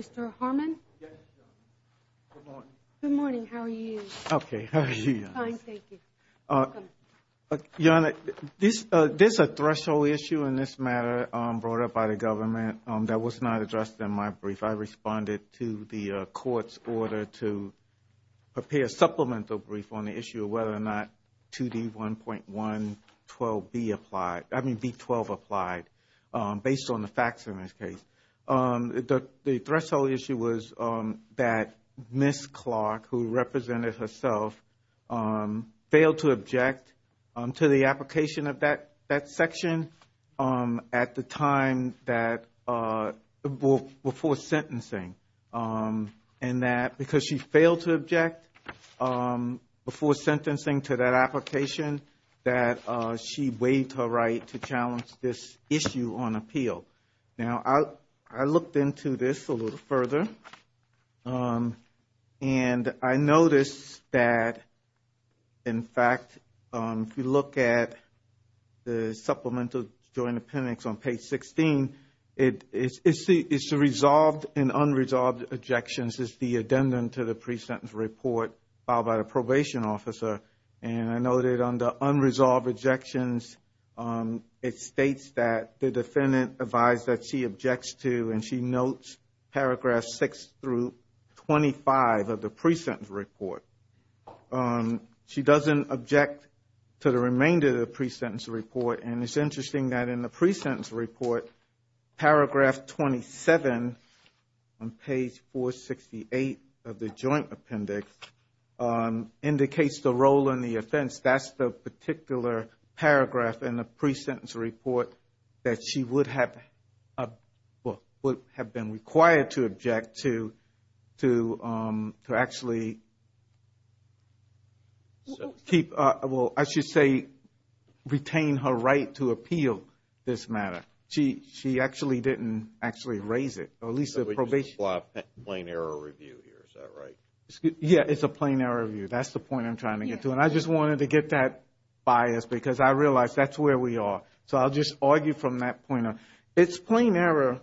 Mr. Harmon? Yes, Joan. Good morning. Good morning. How are you? Okay. How are you, Joan? Fine, thank you. Welcome. Joan, there's a threshold issue in this matter brought up by the government that was not addressed in my brief. I responded to the court's order to prepare a supplemental brief on the issue of whether or not 2D1.112B applied – facts in this case. The threshold issue was that Ms. Clark, who represented herself, failed to object to the application of that section at the time that – before sentencing. And that because she failed to object before sentencing to that application, that she waived her right to challenge this issue on appeal. Now, I looked into this a little further. And I noticed that, in fact, if you look at the supplemental joint appendix on page 16, it's the resolved and unresolved objections. This is the addendum to the pre-sentence report filed by the probation officer. And I noted under unresolved objections, it states that the defendant advised that she objects to, and she notes paragraph 6 through 25 of the pre-sentence report. She doesn't object to the remainder of the pre-sentence report. And it's interesting that in the pre-sentence report, paragraph 27 on page 468 of the joint appendix indicates the role and the offense. That's the particular paragraph in the pre-sentence report that she would have – well, would have been required to object to actually keep – well, I should say, retain her right to appeal this matter. She actually didn't actually raise it, or at least the probation. So we just have a plain error review here, is that right? Yeah, it's a plain error review. That's the point I'm trying to get to. And I just wanted to get that bias because I realize that's where we are. So I'll just argue from that point on. It's plain error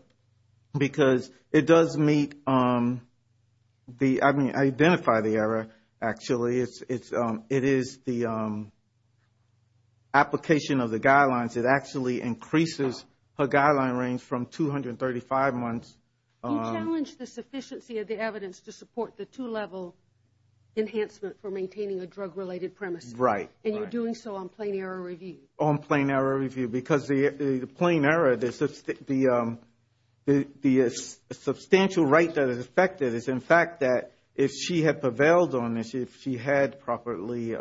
because it does meet the – I mean, identify the error, actually. It is the application of the guidelines. It actually increases her guideline range from 235 months. You challenge the sufficiency of the evidence to support the two-level enhancement for maintaining a drug-related premise. Right. And you're doing so on plain error review. On plain error review because the plain error, the substantial right that is affected is, in fact, that if she had prevailed on this, if she had properly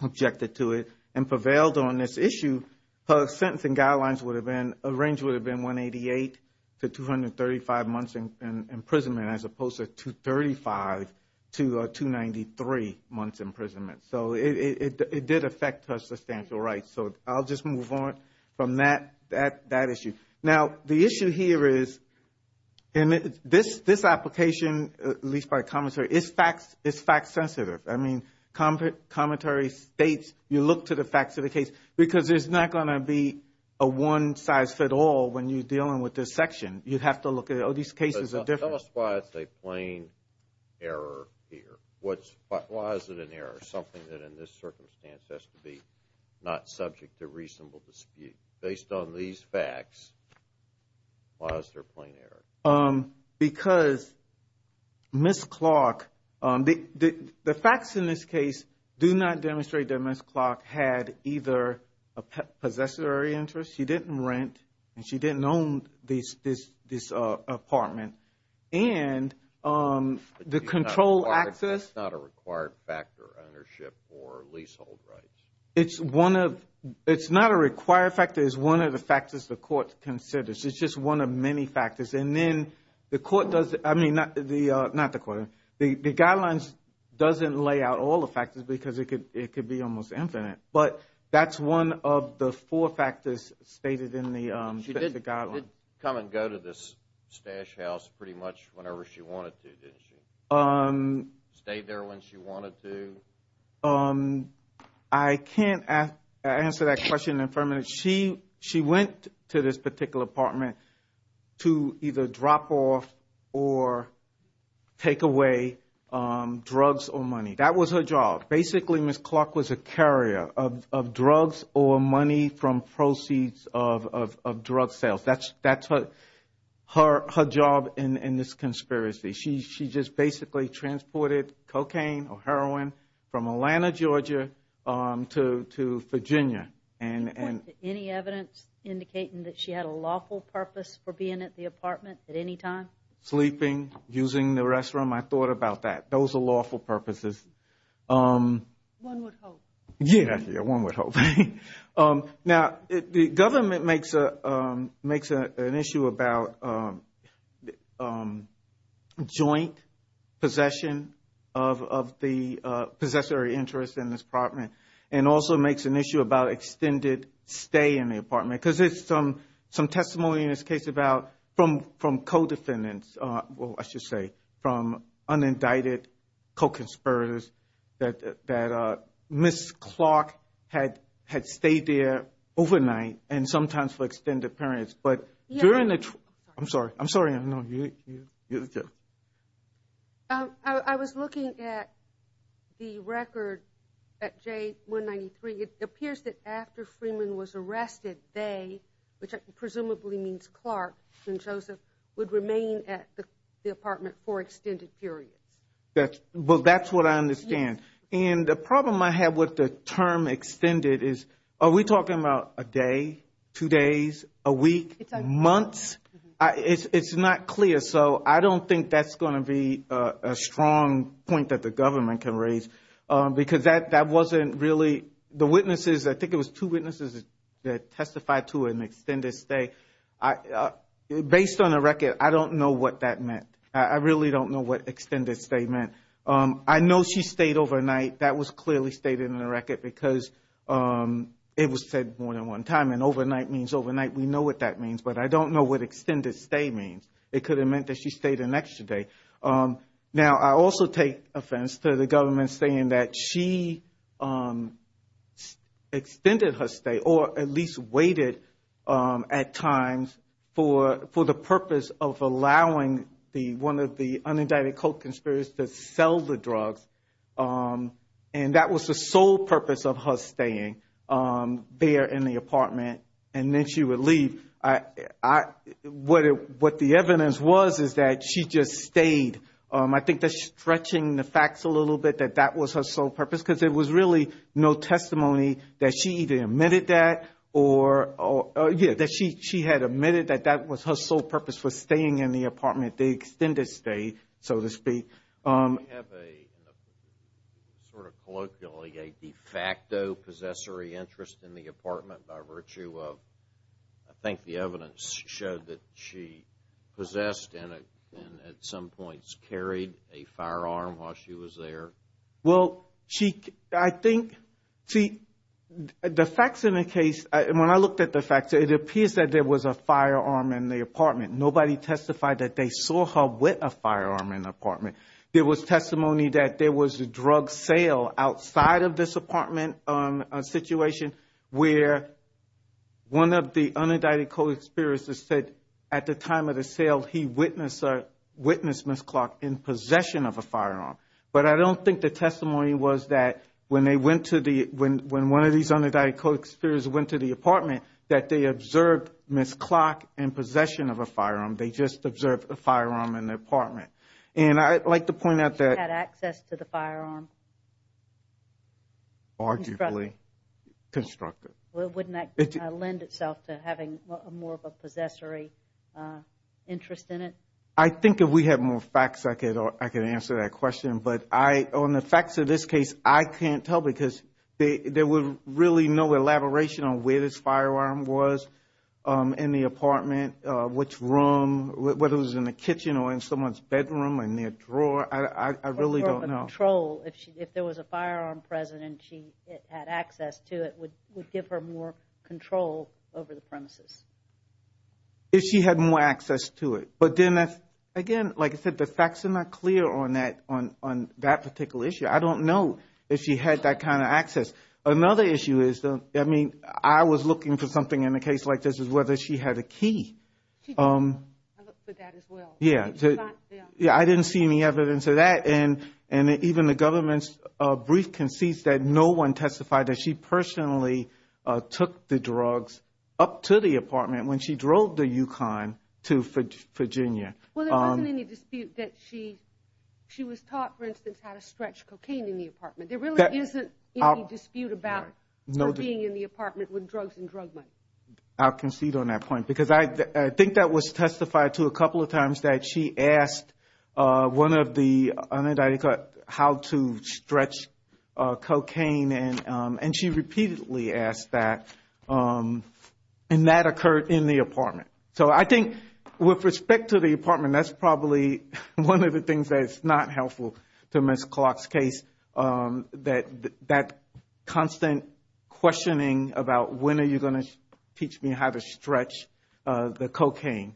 objected to it and prevailed on this issue, her sentencing guidelines would have been – a range would have been 188 to 235 months in imprisonment as opposed to 235 to 293 months imprisonment. So it did affect her substantial rights. So I'll just move on from that issue. Now, the issue here is – and this application, at least by commentary, is fact-sensitive. I mean, commentary states you look to the facts of the case because there's not going to be a one-size-fits-all when you're dealing with this section. You'd have to look at, oh, these cases are different. Tell us why it's a plain error here. Why is it an error? Something that in this circumstance has to be not subject to reasonable dispute. Based on these facts, why is there a plain error? Because Ms. Clark – the facts in this case do not demonstrate that Ms. Clark had either a possessory interest. She didn't rent and she didn't own this apartment. And the control access – That's not a required factor, ownership or leasehold rights. It's one of – it's not a required factor. It's one of the factors the court considers. It's just one of many factors. And then the court does – I mean, not the court. The guidelines doesn't lay out all the factors because it could be almost infinite. But that's one of the four factors stated in the guidelines. She did come and go to this stash house pretty much whenever she wanted to, didn't she? Stayed there when she wanted to? No. I can't answer that question in a few minutes. She went to this particular apartment to either drop off or take away drugs or money. That was her job. Basically, Ms. Clark was a carrier of drugs or money from proceeds of drug sales. That's her job in this conspiracy. She just basically transported cocaine or heroin from Atlanta, Georgia to Virginia. Any evidence indicating that she had a lawful purpose for being at the apartment at any time? Sleeping, using the restroom. I thought about that. Those are lawful purposes. One would hope. Yeah, one would hope. Now, the government makes an issue about joint possession of the possessory interest in this apartment and also makes an issue about extended stay in the apartment because there's some testimony in this case about from co-defendants – well, I should say from unindicted co-conspirators that Ms. Clark had stayed there overnight and sometimes for extended periods. I'm sorry. I'm sorry. I was looking at the record at J193. It appears that after Freeman was arrested, they – which presumably means Clark and Joseph – would remain at the apartment for extended periods. Well, that's what I understand. And the problem I have with the term extended is are we talking about a day, two days, a week, months? It's not clear. So I don't think that's going to be a strong point that the government can raise because that wasn't really – the witnesses – I think it was two witnesses that testified to an extended stay. Based on the record, I don't know what that meant. I really don't know what extended stay meant. I know she stayed overnight. That was clearly stated in the record because it was said more than one time, and overnight means overnight. We know what that means, but I don't know what extended stay means. It could have meant that she stayed an extra day. Now, I also take offense to the government saying that she extended her stay or at least waited at times for the purpose of allowing one of the unindicted co-conspirators to sell the drugs. And that was the sole purpose of her staying there in the apartment. And then she would leave. What the evidence was is that she just stayed. I think that's stretching the facts a little bit that that was her sole purpose because there was really no testimony that she even admitted that or – that she had admitted that that was her sole purpose for staying in the apartment, the extended stay, so to speak. Do you have a sort of colloquially a de facto possessory interest in the apartment by virtue of – I think the evidence showed that she possessed and at some points carried a firearm while she was there. Well, she – I think – see, the facts in the case – when I looked at the facts, it appears that there was a firearm in the apartment. Nobody testified that they saw her with a firearm in the apartment. There was testimony that there was a drug sale outside of this apartment situation where one of the unindicted co-conspirators said at the time of the sale, he witnessed Ms. Clark in possession of a firearm. But I don't think the testimony was that when they went to the – they just observed a firearm in the apartment. And I'd like to point out that – She had access to the firearm? Arguably constructed. Well, wouldn't that lend itself to having more of a possessory interest in it? I think if we had more facts, I could answer that question. But I – on the facts of this case, I can't tell because there was really no elaboration on where this firearm was in the apartment, which room, whether it was in the kitchen or in someone's bedroom or near a drawer. I really don't know. Or a control. If there was a firearm present and she had access to it, would it give her more control over the premises? If she had more access to it. But then that's – again, like I said, the facts are not clear on that particular issue. I don't know if she had that kind of access. Another issue is, I mean, I was looking for something in a case like this is whether she had a key. I looked for that as well. Yeah. I didn't see any evidence of that. And even the government's brief concedes that no one testified that she personally took the drugs up to the apartment when she drove the Yukon to Virginia. Well, there wasn't any dispute that she was taught, for instance, how to stretch cocaine in the apartment. There really isn't any dispute about her being in the apartment with drugs and drug money. I'll concede on that point because I think that was testified to a couple of times that she asked one of the unidentified how to stretch cocaine. And she repeatedly asked that. And that occurred in the apartment. So I think with respect to the apartment, that's probably one of the things that's not helpful to Ms. Clark's case, that constant questioning about when are you going to teach me how to stretch the cocaine.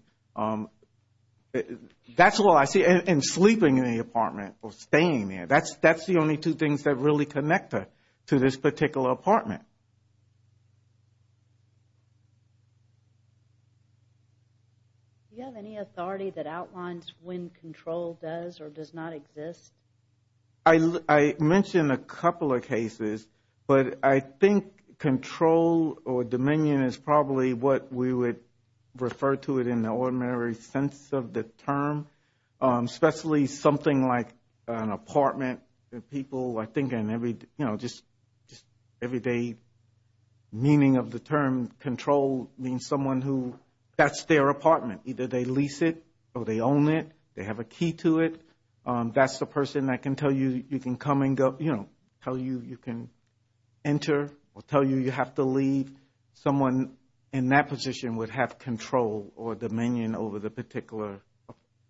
That's all I see. And sleeping in the apartment or staying there, that's the only two things that really connect her to this particular apartment. Do you have any authority that outlines when control does or does not exist? I mentioned a couple of cases. But I think control or dominion is probably what we would refer to it in the ordinary sense of the term, especially something like an apartment. People, I think, just everyday meaning of the term control means someone who that's their apartment. Either they lease it or they own it. They have a key to it. That's the person that can tell you you can come and go, tell you you can enter or tell you you have to leave. Someone in that position would have control or dominion over the particular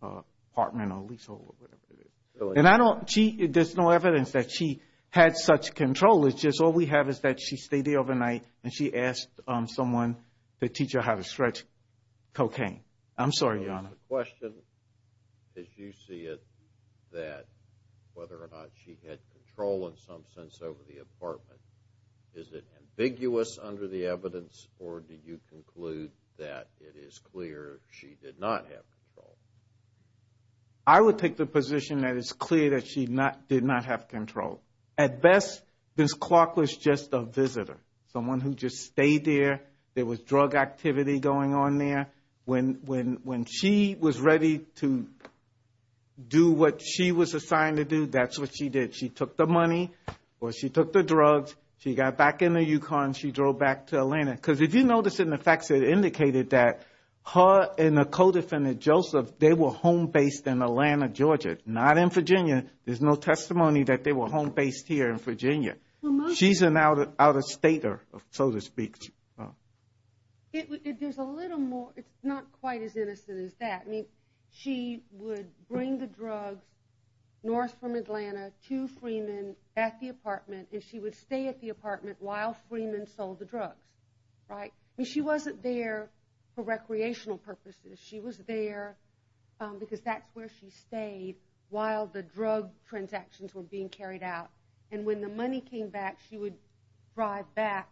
apartment or leasehold or whatever it is. And I don't – there's no evidence that she had such control. It's just all we have is that she stayed there overnight and she asked someone to teach her how to stretch cocaine. I'm sorry, Your Honor. The question, as you see it, that whether or not she had control in some sense over the apartment, is it ambiguous under the evidence or do you conclude that it is clear she did not have control? I would take the position that it's clear that she did not have control. At best, Ms. Clark was just a visitor, someone who just stayed there. There was drug activity going on there. When she was ready to do what she was assigned to do, that's what she did. She took the money or she took the drugs. She got back in the Yukon. She drove back to Atlanta. Because if you notice in the facts, it indicated that her and the co-defendant, Joseph, they were home-based in Atlanta, Georgia, not in Virginia. There's no testimony that they were home-based here in Virginia. She's an out-of-stater, so to speak. There's a little more. It's not quite as innocent as that. She would bring the drugs north from Atlanta to Freeman at the apartment, and she would stay at the apartment while Freeman sold the drugs. She wasn't there for recreational purposes. She was there because that's where she stayed while the drug transactions were being carried out. And when the money came back, she would drive back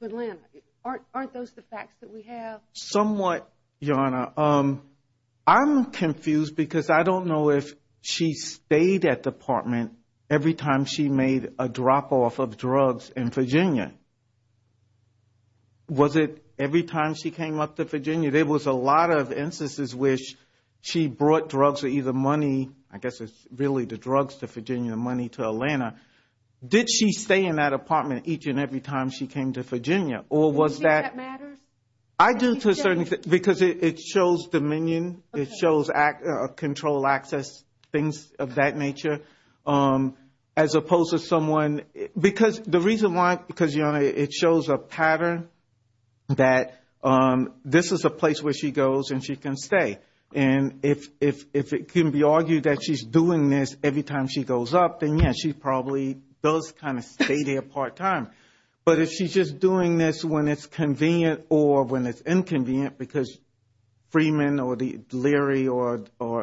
to Atlanta. Aren't those the facts that we have? Somewhat, Your Honor. I'm confused because I don't know if she stayed at the apartment every time she made a drop-off of drugs in Virginia. Was it every time she came up to Virginia? There was a lot of instances which she brought drugs or either money, I guess it's really the drugs to Virginia or money to Atlanta. Did she stay in that apartment each and every time she came to Virginia? Do you think that matters? I do to a certain extent because it shows dominion. It shows control, access, things of that nature, as opposed to someone. Because the reason why, because, Your Honor, it shows a pattern that this is a place where she goes and she can stay. And if it can be argued that she's doing this every time she goes up, then, yes, she probably does kind of stay there part-time. But if she's just doing this when it's convenient or when it's inconvenient, because Freeman or Leary or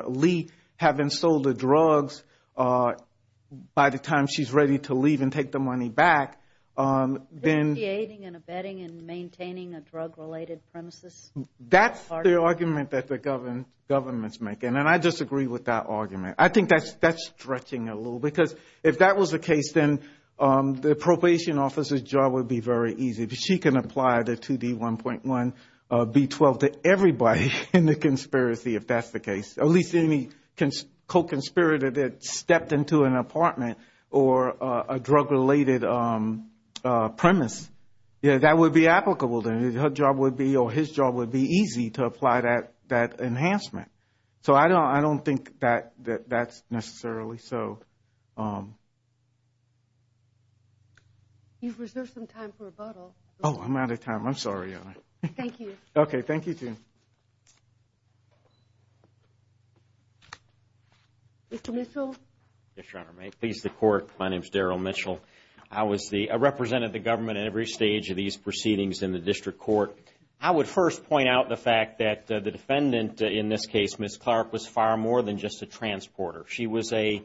Lee have been sold the drugs by the time she's ready to leave and take the money back, then... Dissociating and abetting and maintaining a drug-related premises. That's the argument that the government's making, and I disagree with that argument. I think that's stretching a little. Because if that was the case, then the probation officer's job would be very easy. She can apply the 2D1.1B12 to everybody in the conspiracy, if that's the case. At least any co-conspirator that stepped into an apartment or a drug-related premise. That would be applicable, then. Her job would be or his job would be easy to apply that enhancement. So I don't think that that's necessarily so. You've reserved some time for rebuttal. Oh, I'm out of time. I'm sorry, Your Honor. Thank you. Okay, thank you, too. Mr. Mitchell. Yes, Your Honor, may it please the Court, my name's Darrell Mitchell. I represented the government at every stage of these proceedings in the district court. I would first point out the fact that the defendant in this case, Ms. Clark, was far more than just a transporter. She was a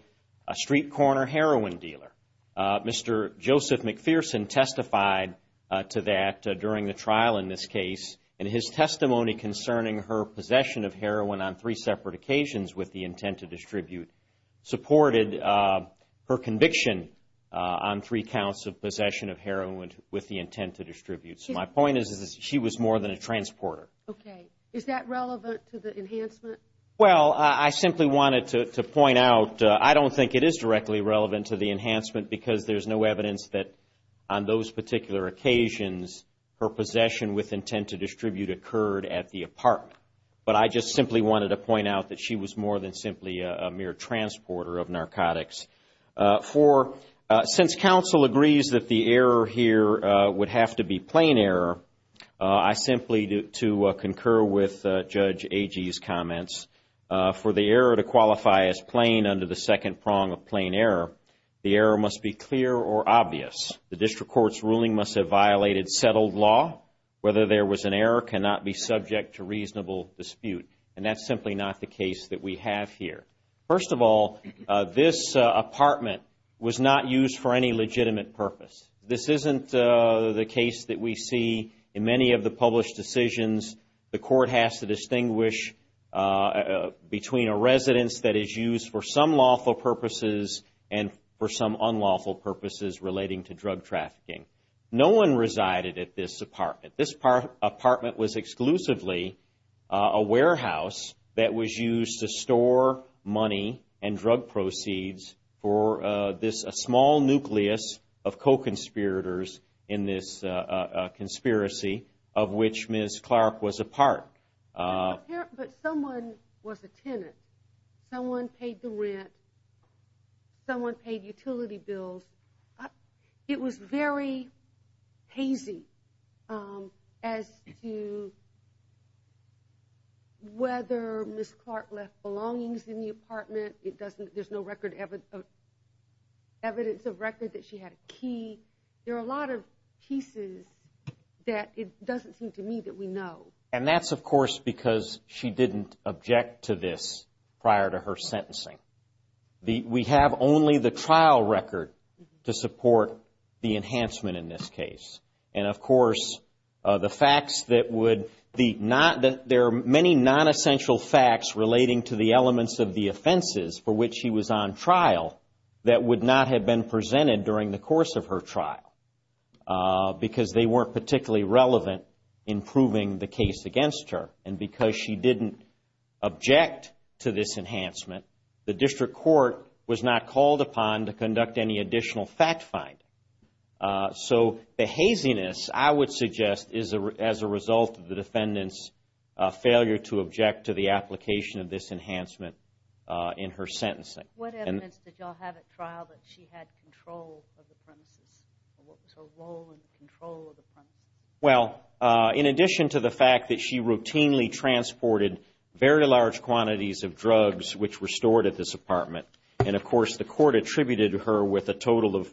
street corner heroin dealer. Mr. Joseph McPherson testified to that during the trial in this case, and his testimony concerning her possession of heroin on three separate occasions with the intent to distribute supported her conviction on three counts of possession of heroin with the intent to distribute. So my point is that she was more than a transporter. Okay. Is that relevant to the enhancement? Well, I simply wanted to point out, I don't think it is directly relevant to the enhancement because there's no evidence that on those particular occasions her possession with intent to distribute occurred at the apartment. But I just simply wanted to point out that she was more than simply a mere transporter of narcotics. Since counsel agrees that the error here would have to be plain error, I simply do to concur with Judge Agee's comments. For the error to qualify as plain under the second prong of plain error, the error must be clear or obvious. The district court's ruling must have violated settled law. Whether there was an error cannot be subject to reasonable dispute, and that's simply not the case that we have here. First of all, this apartment was not used for any legitimate purpose. This isn't the case that we see in many of the published decisions. The court has to distinguish between a residence that is used for some lawful purposes and for some unlawful purposes relating to drug trafficking. No one resided at this apartment. This apartment was exclusively a warehouse that was used to store money and drug proceeds for this small nucleus of co-conspirators in this conspiracy of which Ms. Clark was a part. But someone was a tenant. Someone paid the rent. Someone paid utility bills. It was very hazy as to whether Ms. Clark left belongings in the apartment. There's no record of evidence of record that she had a key. There are a lot of pieces that it doesn't seem to me that we know. And that's, of course, because she didn't object to this prior to her sentencing. We have only the trial record to support the enhancement in this case. And, of course, there are many non-essential facts relating to the elements of the offenses for which she was on trial that would not have been presented during the course of her trial because they weren't particularly relevant in proving the case against her. And because she didn't object to this enhancement, the district court was not called upon to conduct any additional fact-finding. So the haziness, I would suggest, is as a result of the defendant's failure to object to the application of this enhancement in her sentencing. What evidence did y'all have at trial that she had control of the premises? What was her role in the control of the premises? Well, in addition to the fact that she routinely transported very large quantities of drugs which were stored at this apartment, and, of course, the court attributed her with a total of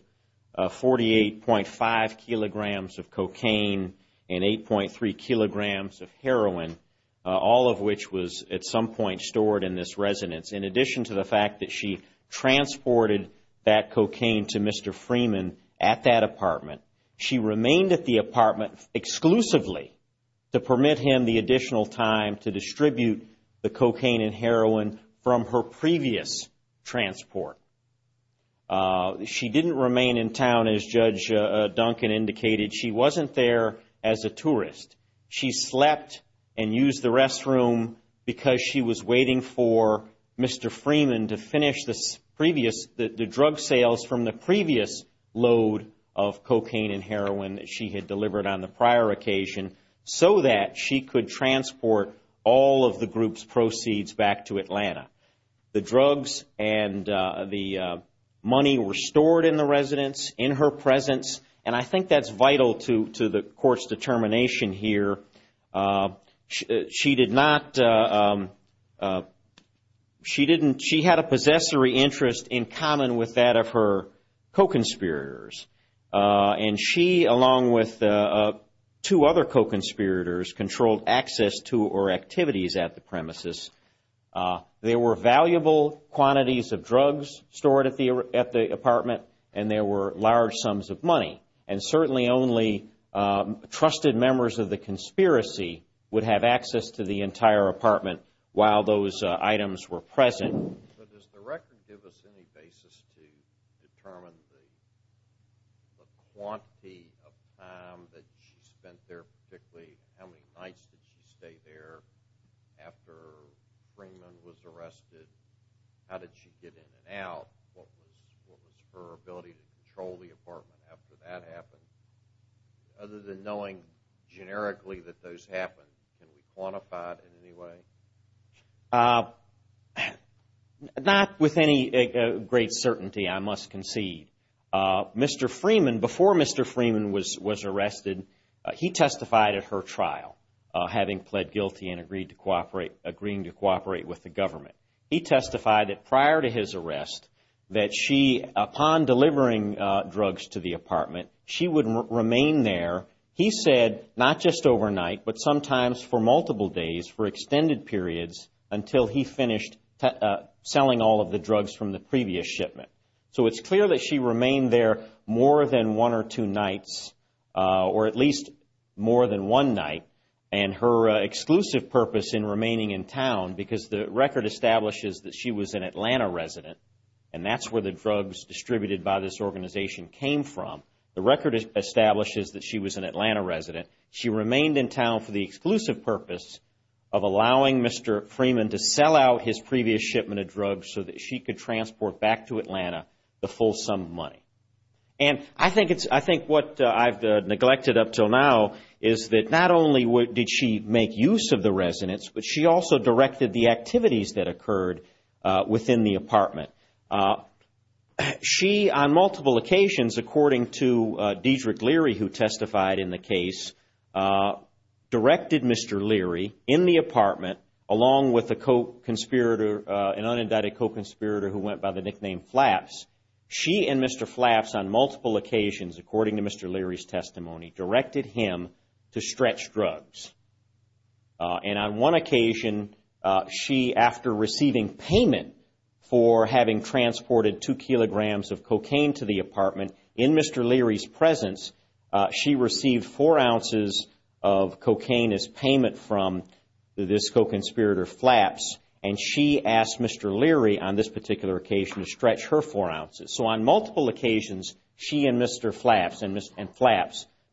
48.5 kilograms of cocaine and 8.3 kilograms of heroin, all of which was at some point stored in this residence. In addition to the fact that she transported that cocaine to Mr. Freeman at that apartment, she remained at the apartment exclusively to permit him the additional time to distribute the cocaine and heroin from her previous transport. She didn't remain in town, as Judge Duncan indicated. She wasn't there as a tourist. She slept and used the restroom because she was waiting for Mr. Freeman to finish the drug sales from the previous load of cocaine and heroin that she had delivered on the prior occasion so that she could transport all of the group's proceeds back to Atlanta. The drugs and the money were stored in the residence, in her presence, and I think that's vital to the court's determination here. She did not, she didn't, she had a possessory interest in common with that of her co-conspirators, and she, along with two other co-conspirators, controlled access to or activities at the premises. There were valuable quantities of drugs stored at the apartment and there were large sums of money, and certainly only trusted members of the conspiracy would have access to the entire apartment while those items were present. But does the record give us any basis to determine the quantity of time that she spent there, particularly how many nights did she stay there after Freeman was arrested? How did she get in and out? What was her ability to control the apartment after that happened? Other than knowing generically that those happened, can we quantify it in any way? Not with any great certainty, I must concede. Mr. Freeman, before Mr. Freeman was arrested, he testified at her trial, having pled guilty and agreeing to cooperate with the government. He testified that prior to his arrest, that she, upon delivering drugs to the apartment, she would remain there, he said, not just overnight, but sometimes for multiple days, for extended periods, until he finished selling all of the drugs from the previous shipment. So it's clear that she remained there more than one or two nights, or at least more than one night, and her exclusive purpose in remaining in town, because the record establishes that she was an Atlanta resident, and that's where the drugs distributed by this organization came from. The record establishes that she was an Atlanta resident. She remained in town for the exclusive purpose of allowing Mr. Freeman to sell out his previous shipment of drugs so that she could transport back to Atlanta the full sum of money. And I think what I've neglected up until now is that not only did she make use of the residence, but she also directed the activities that occurred within the apartment. She, on multiple occasions, according to Dedrick Leary, who testified in the case, directed Mr. Leary, in the apartment, along with an unindicted co-conspirator who went by the nickname Flaps, she and Mr. Flaps, on multiple occasions, according to Mr. Leary's testimony, directed him to stretch drugs. And on one occasion, she, after receiving payment for having transported two kilograms of cocaine to the apartment, in Mr. Leary's presence, she received four ounces of cocaine as payment from this co-conspirator Flaps, and she asked Mr. Leary, on this particular occasion, to stretch her four ounces. So on multiple occasions, she and Mr. Flaps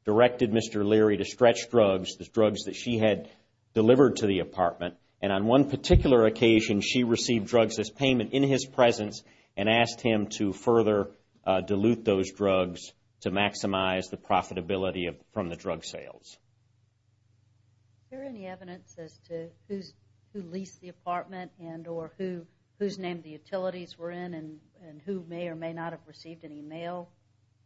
directed Mr. Leary to stretch drugs, the drugs that she had delivered to the apartment, and on one particular occasion, she received drugs as payment in his presence and asked him to further dilute those drugs to maximize the profitability from the drug sales. Is there any evidence as to who leased the apartment and or whose name the utilities were in and who may or may not have received any mail?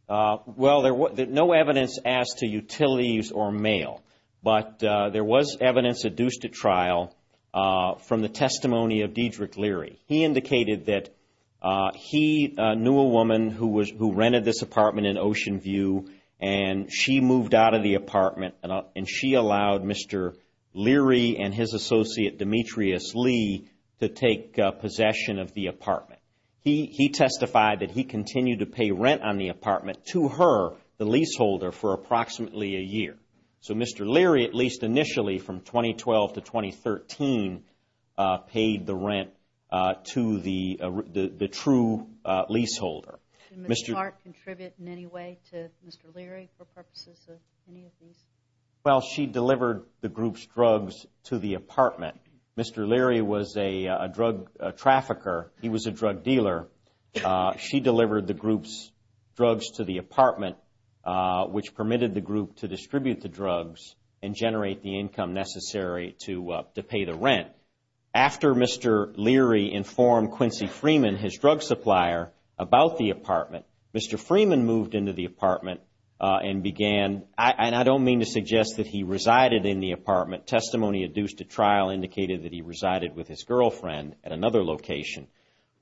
Well, there was no evidence as to utilities or mail, but there was evidence adduced at trial from the testimony of Diedrich Leary. He indicated that he knew a woman who rented this apartment in Ocean View, and she moved out of the apartment and she allowed Mr. Leary and his associate, Demetrius Lee, to take possession of the apartment. He testified that he continued to pay rent on the apartment to her, the leaseholder, for approximately a year. So Mr. Leary, at least initially from 2012 to 2013, paid the rent to the true leaseholder. Did Ms. Clark contribute in any way to Mr. Leary for purposes of any of these? Well, she delivered the group's drugs to the apartment. Mr. Leary was a drug trafficker. He was a drug dealer. She delivered the group's drugs to the apartment, which permitted the group to distribute the drugs and generate the income necessary to pay the rent. After Mr. Leary informed Quincy Freeman, his drug supplier, about the apartment, Mr. Freeman moved into the apartment and began, and I don't mean to suggest that he resided in the apartment. Testimony adduced at trial indicated that he resided with his girlfriend at another location.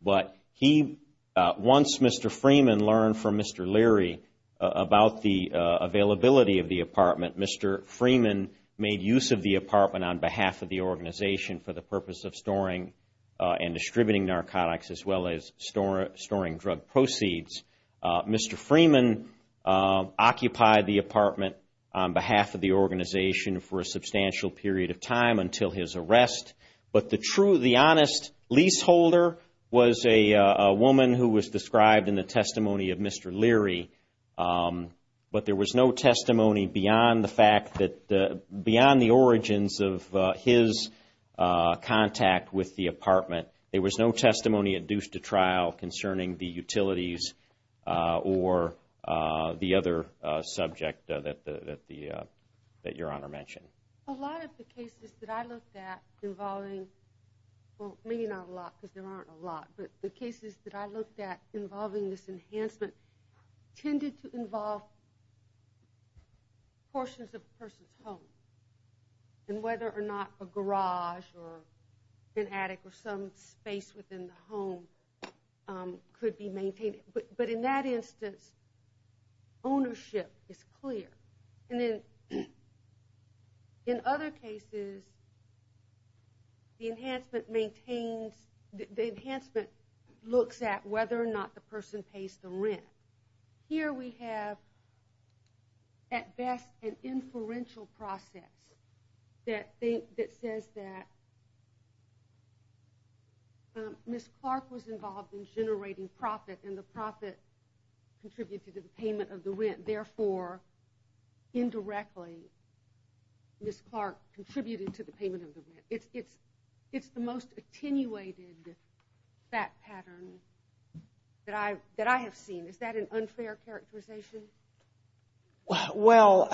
But he, once Mr. Freeman learned from Mr. Leary about the availability of the apartment, Mr. Freeman made use of the apartment on behalf of the organization for the purpose of storing and distributing narcotics as well as storing drug proceeds. Mr. Freeman occupied the apartment on behalf of the organization for a substantial period of time until his arrest. But the honest leaseholder was a woman who was described in the testimony of Mr. Leary, but there was no testimony beyond the origins of his contact with the apartment. There was no testimony adduced at trial concerning the utilities or the other subject that Your Honor mentioned. A lot of the cases that I looked at involving, well, maybe not a lot because there aren't a lot, but the cases that I looked at involving this enhancement tended to involve portions of a person's home, and whether or not a garage or an attic or some space within the home could be maintained. But in that instance, ownership is clear. And then in other cases, the enhancement looks at whether or not the person pays the rent. Here we have at best an inferential process that says that Ms. Clark was involved in generating profit, and the profit contributed to the payment of the rent. Therefore, indirectly, Ms. Clark contributed to the payment of the rent. It's the most attenuated fact pattern that I have seen. Is that an unfair characterization? Well,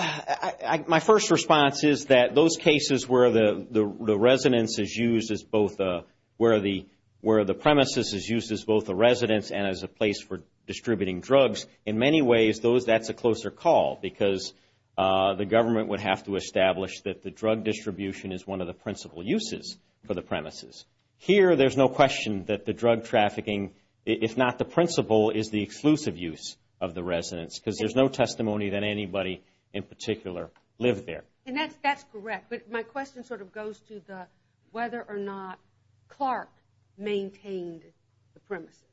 my first response is that those cases where the residence is used as both a, where the premises is used as both a residence and as a place for distributing drugs, in many ways that's a closer call because the government would have to establish that the drug distribution is one of the principal uses for the premises. Here, there's no question that the drug trafficking, if not the principal, is the exclusive use of the residence because there's no testimony that anybody in particular lived there. And that's correct. But my question sort of goes to whether or not Clark maintained the premises.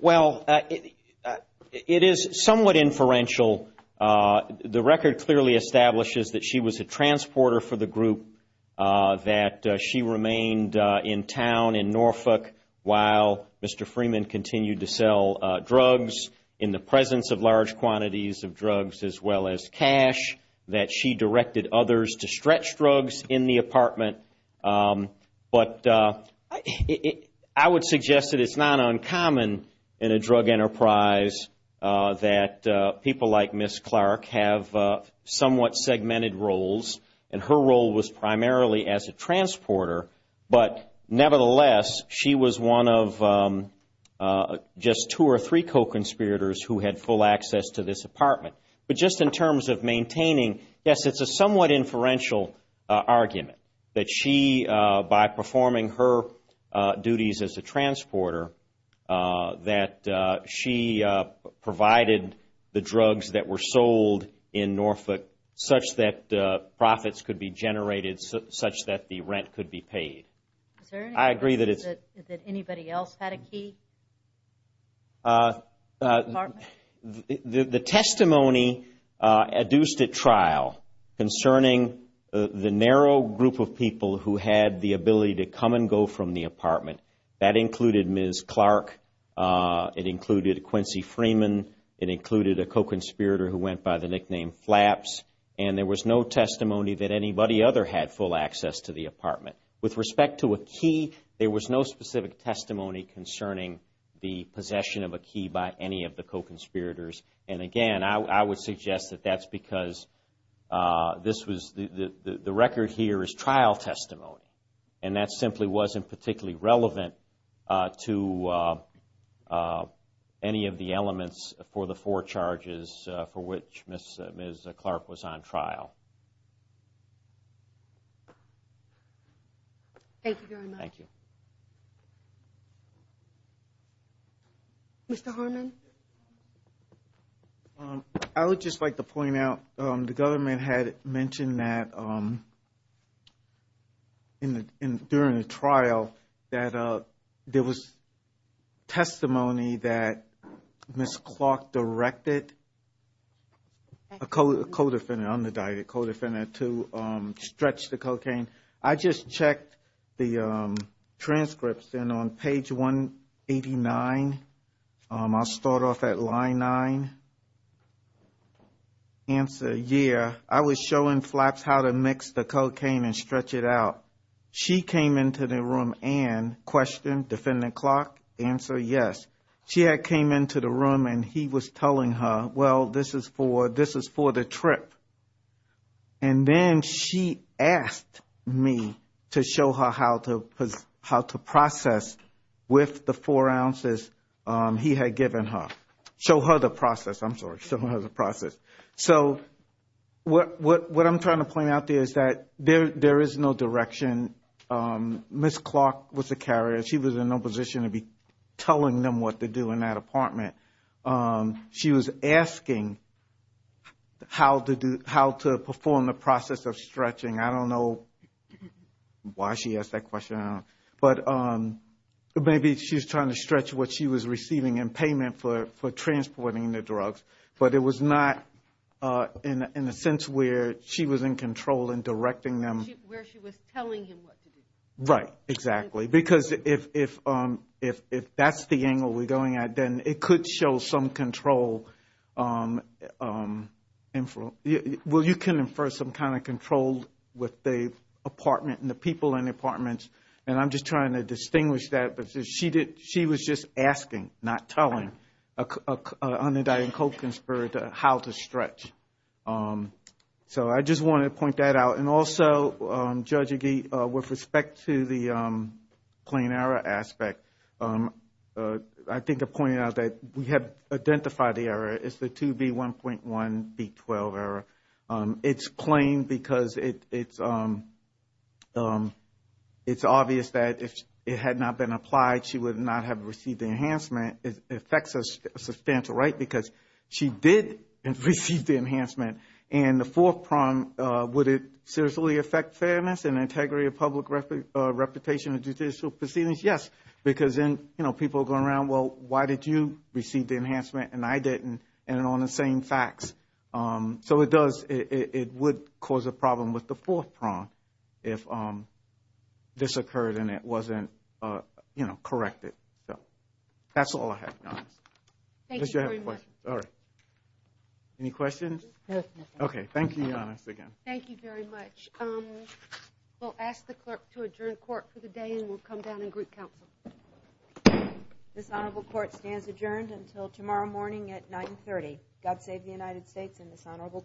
Well, it is somewhat inferential. The record clearly establishes that she was a transporter for the group, that she remained in town in Norfolk while Mr. Freeman continued to sell drugs. In the presence of large quantities of drugs as well as cash, that she directed others to stretch drugs in the apartment. But I would suggest that it's not uncommon in a drug enterprise that people like Ms. Clark have somewhat segmented roles, and her role was primarily as a transporter. But nevertheless, she was one of just two or three co-conspirators who had full access to this apartment. But just in terms of maintaining, yes, it's a somewhat inferential argument that she, by performing her duties as a transporter, that she provided the drugs that were sold in Norfolk such that profits could be generated, such that the rent could be paid. Is there any question that anybody else had a key? The testimony adduced at trial concerning the narrow group of people who had the ability to come and go from the apartment, that included Ms. Clark, it included Quincy Freeman, it included a co-conspirator who went by the nickname Flaps, and there was no testimony that anybody other had full access to the apartment. With respect to a key, there was no specific testimony concerning the possession of a key by any of the co-conspirators. And again, I would suggest that that's because the record here is trial testimony, and that simply wasn't particularly relevant to any of the elements for the four charges for which Ms. Clark was on trial. Thank you very much. Thank you. Mr. Harmon? I would just like to point out, the government had mentioned that during the trial that there was testimony that Ms. Clark directed a co-defendant, an under-dieted co-defendant to stretch the cocaine. I just checked the transcripts, and on page 189, I'll start off at line 9. Answer, yeah, I was showing Flaps how to mix the cocaine and stretch it out. She came into the room and questioned Defendant Clark. Answer, yes. She had came into the room, and he was telling her, well, this is for the trip. And then she asked me to show her how to process with the four ounces he had given her. Show her the process. I'm sorry, show her the process. So what I'm trying to point out there is that there is no direction. Ms. Clark was a carrier. She was in no position to be telling them what to do in that apartment. She was asking how to perform the process of stretching. I don't know why she asked that question, but maybe she was trying to stretch what she was receiving in payment for transporting the drugs. But it was not in a sense where she was in control in directing them. Where she was telling him what to do. Right, exactly. Because if that's the angle we're going at, then it could show some control. Well, you can infer some kind of control with the apartment and the people in the apartments. And I'm just trying to distinguish that. But she was just asking, not telling. Undyne Colkins for how to stretch. So I just wanted to point that out. And also, Judge Agee, with respect to the plain error aspect, I think I pointed out that we have identified the error. It's the 2B1.1B12 error. It's plain because it's obvious that if it had not been applied, she would not have received the enhancement. It affects a substantial right because she did receive the enhancement. And the fourth prong, would it seriously affect fairness and integrity of public reputation in judicial proceedings? Yes, because then people are going around, well, why did you receive the enhancement and I didn't? And on the same facts. So it does. It would cause a problem with the fourth prong if this occurred and it wasn't corrected. So that's all I have, Your Honor. Thank you very much. Sorry. Any questions? Okay. Thank you, Your Honor, again. Thank you very much. We'll ask the clerk to adjourn court for the day and we'll come down in group council. This honorable court stands adjourned until tomorrow morning at 930. God save the United States and this honorable court.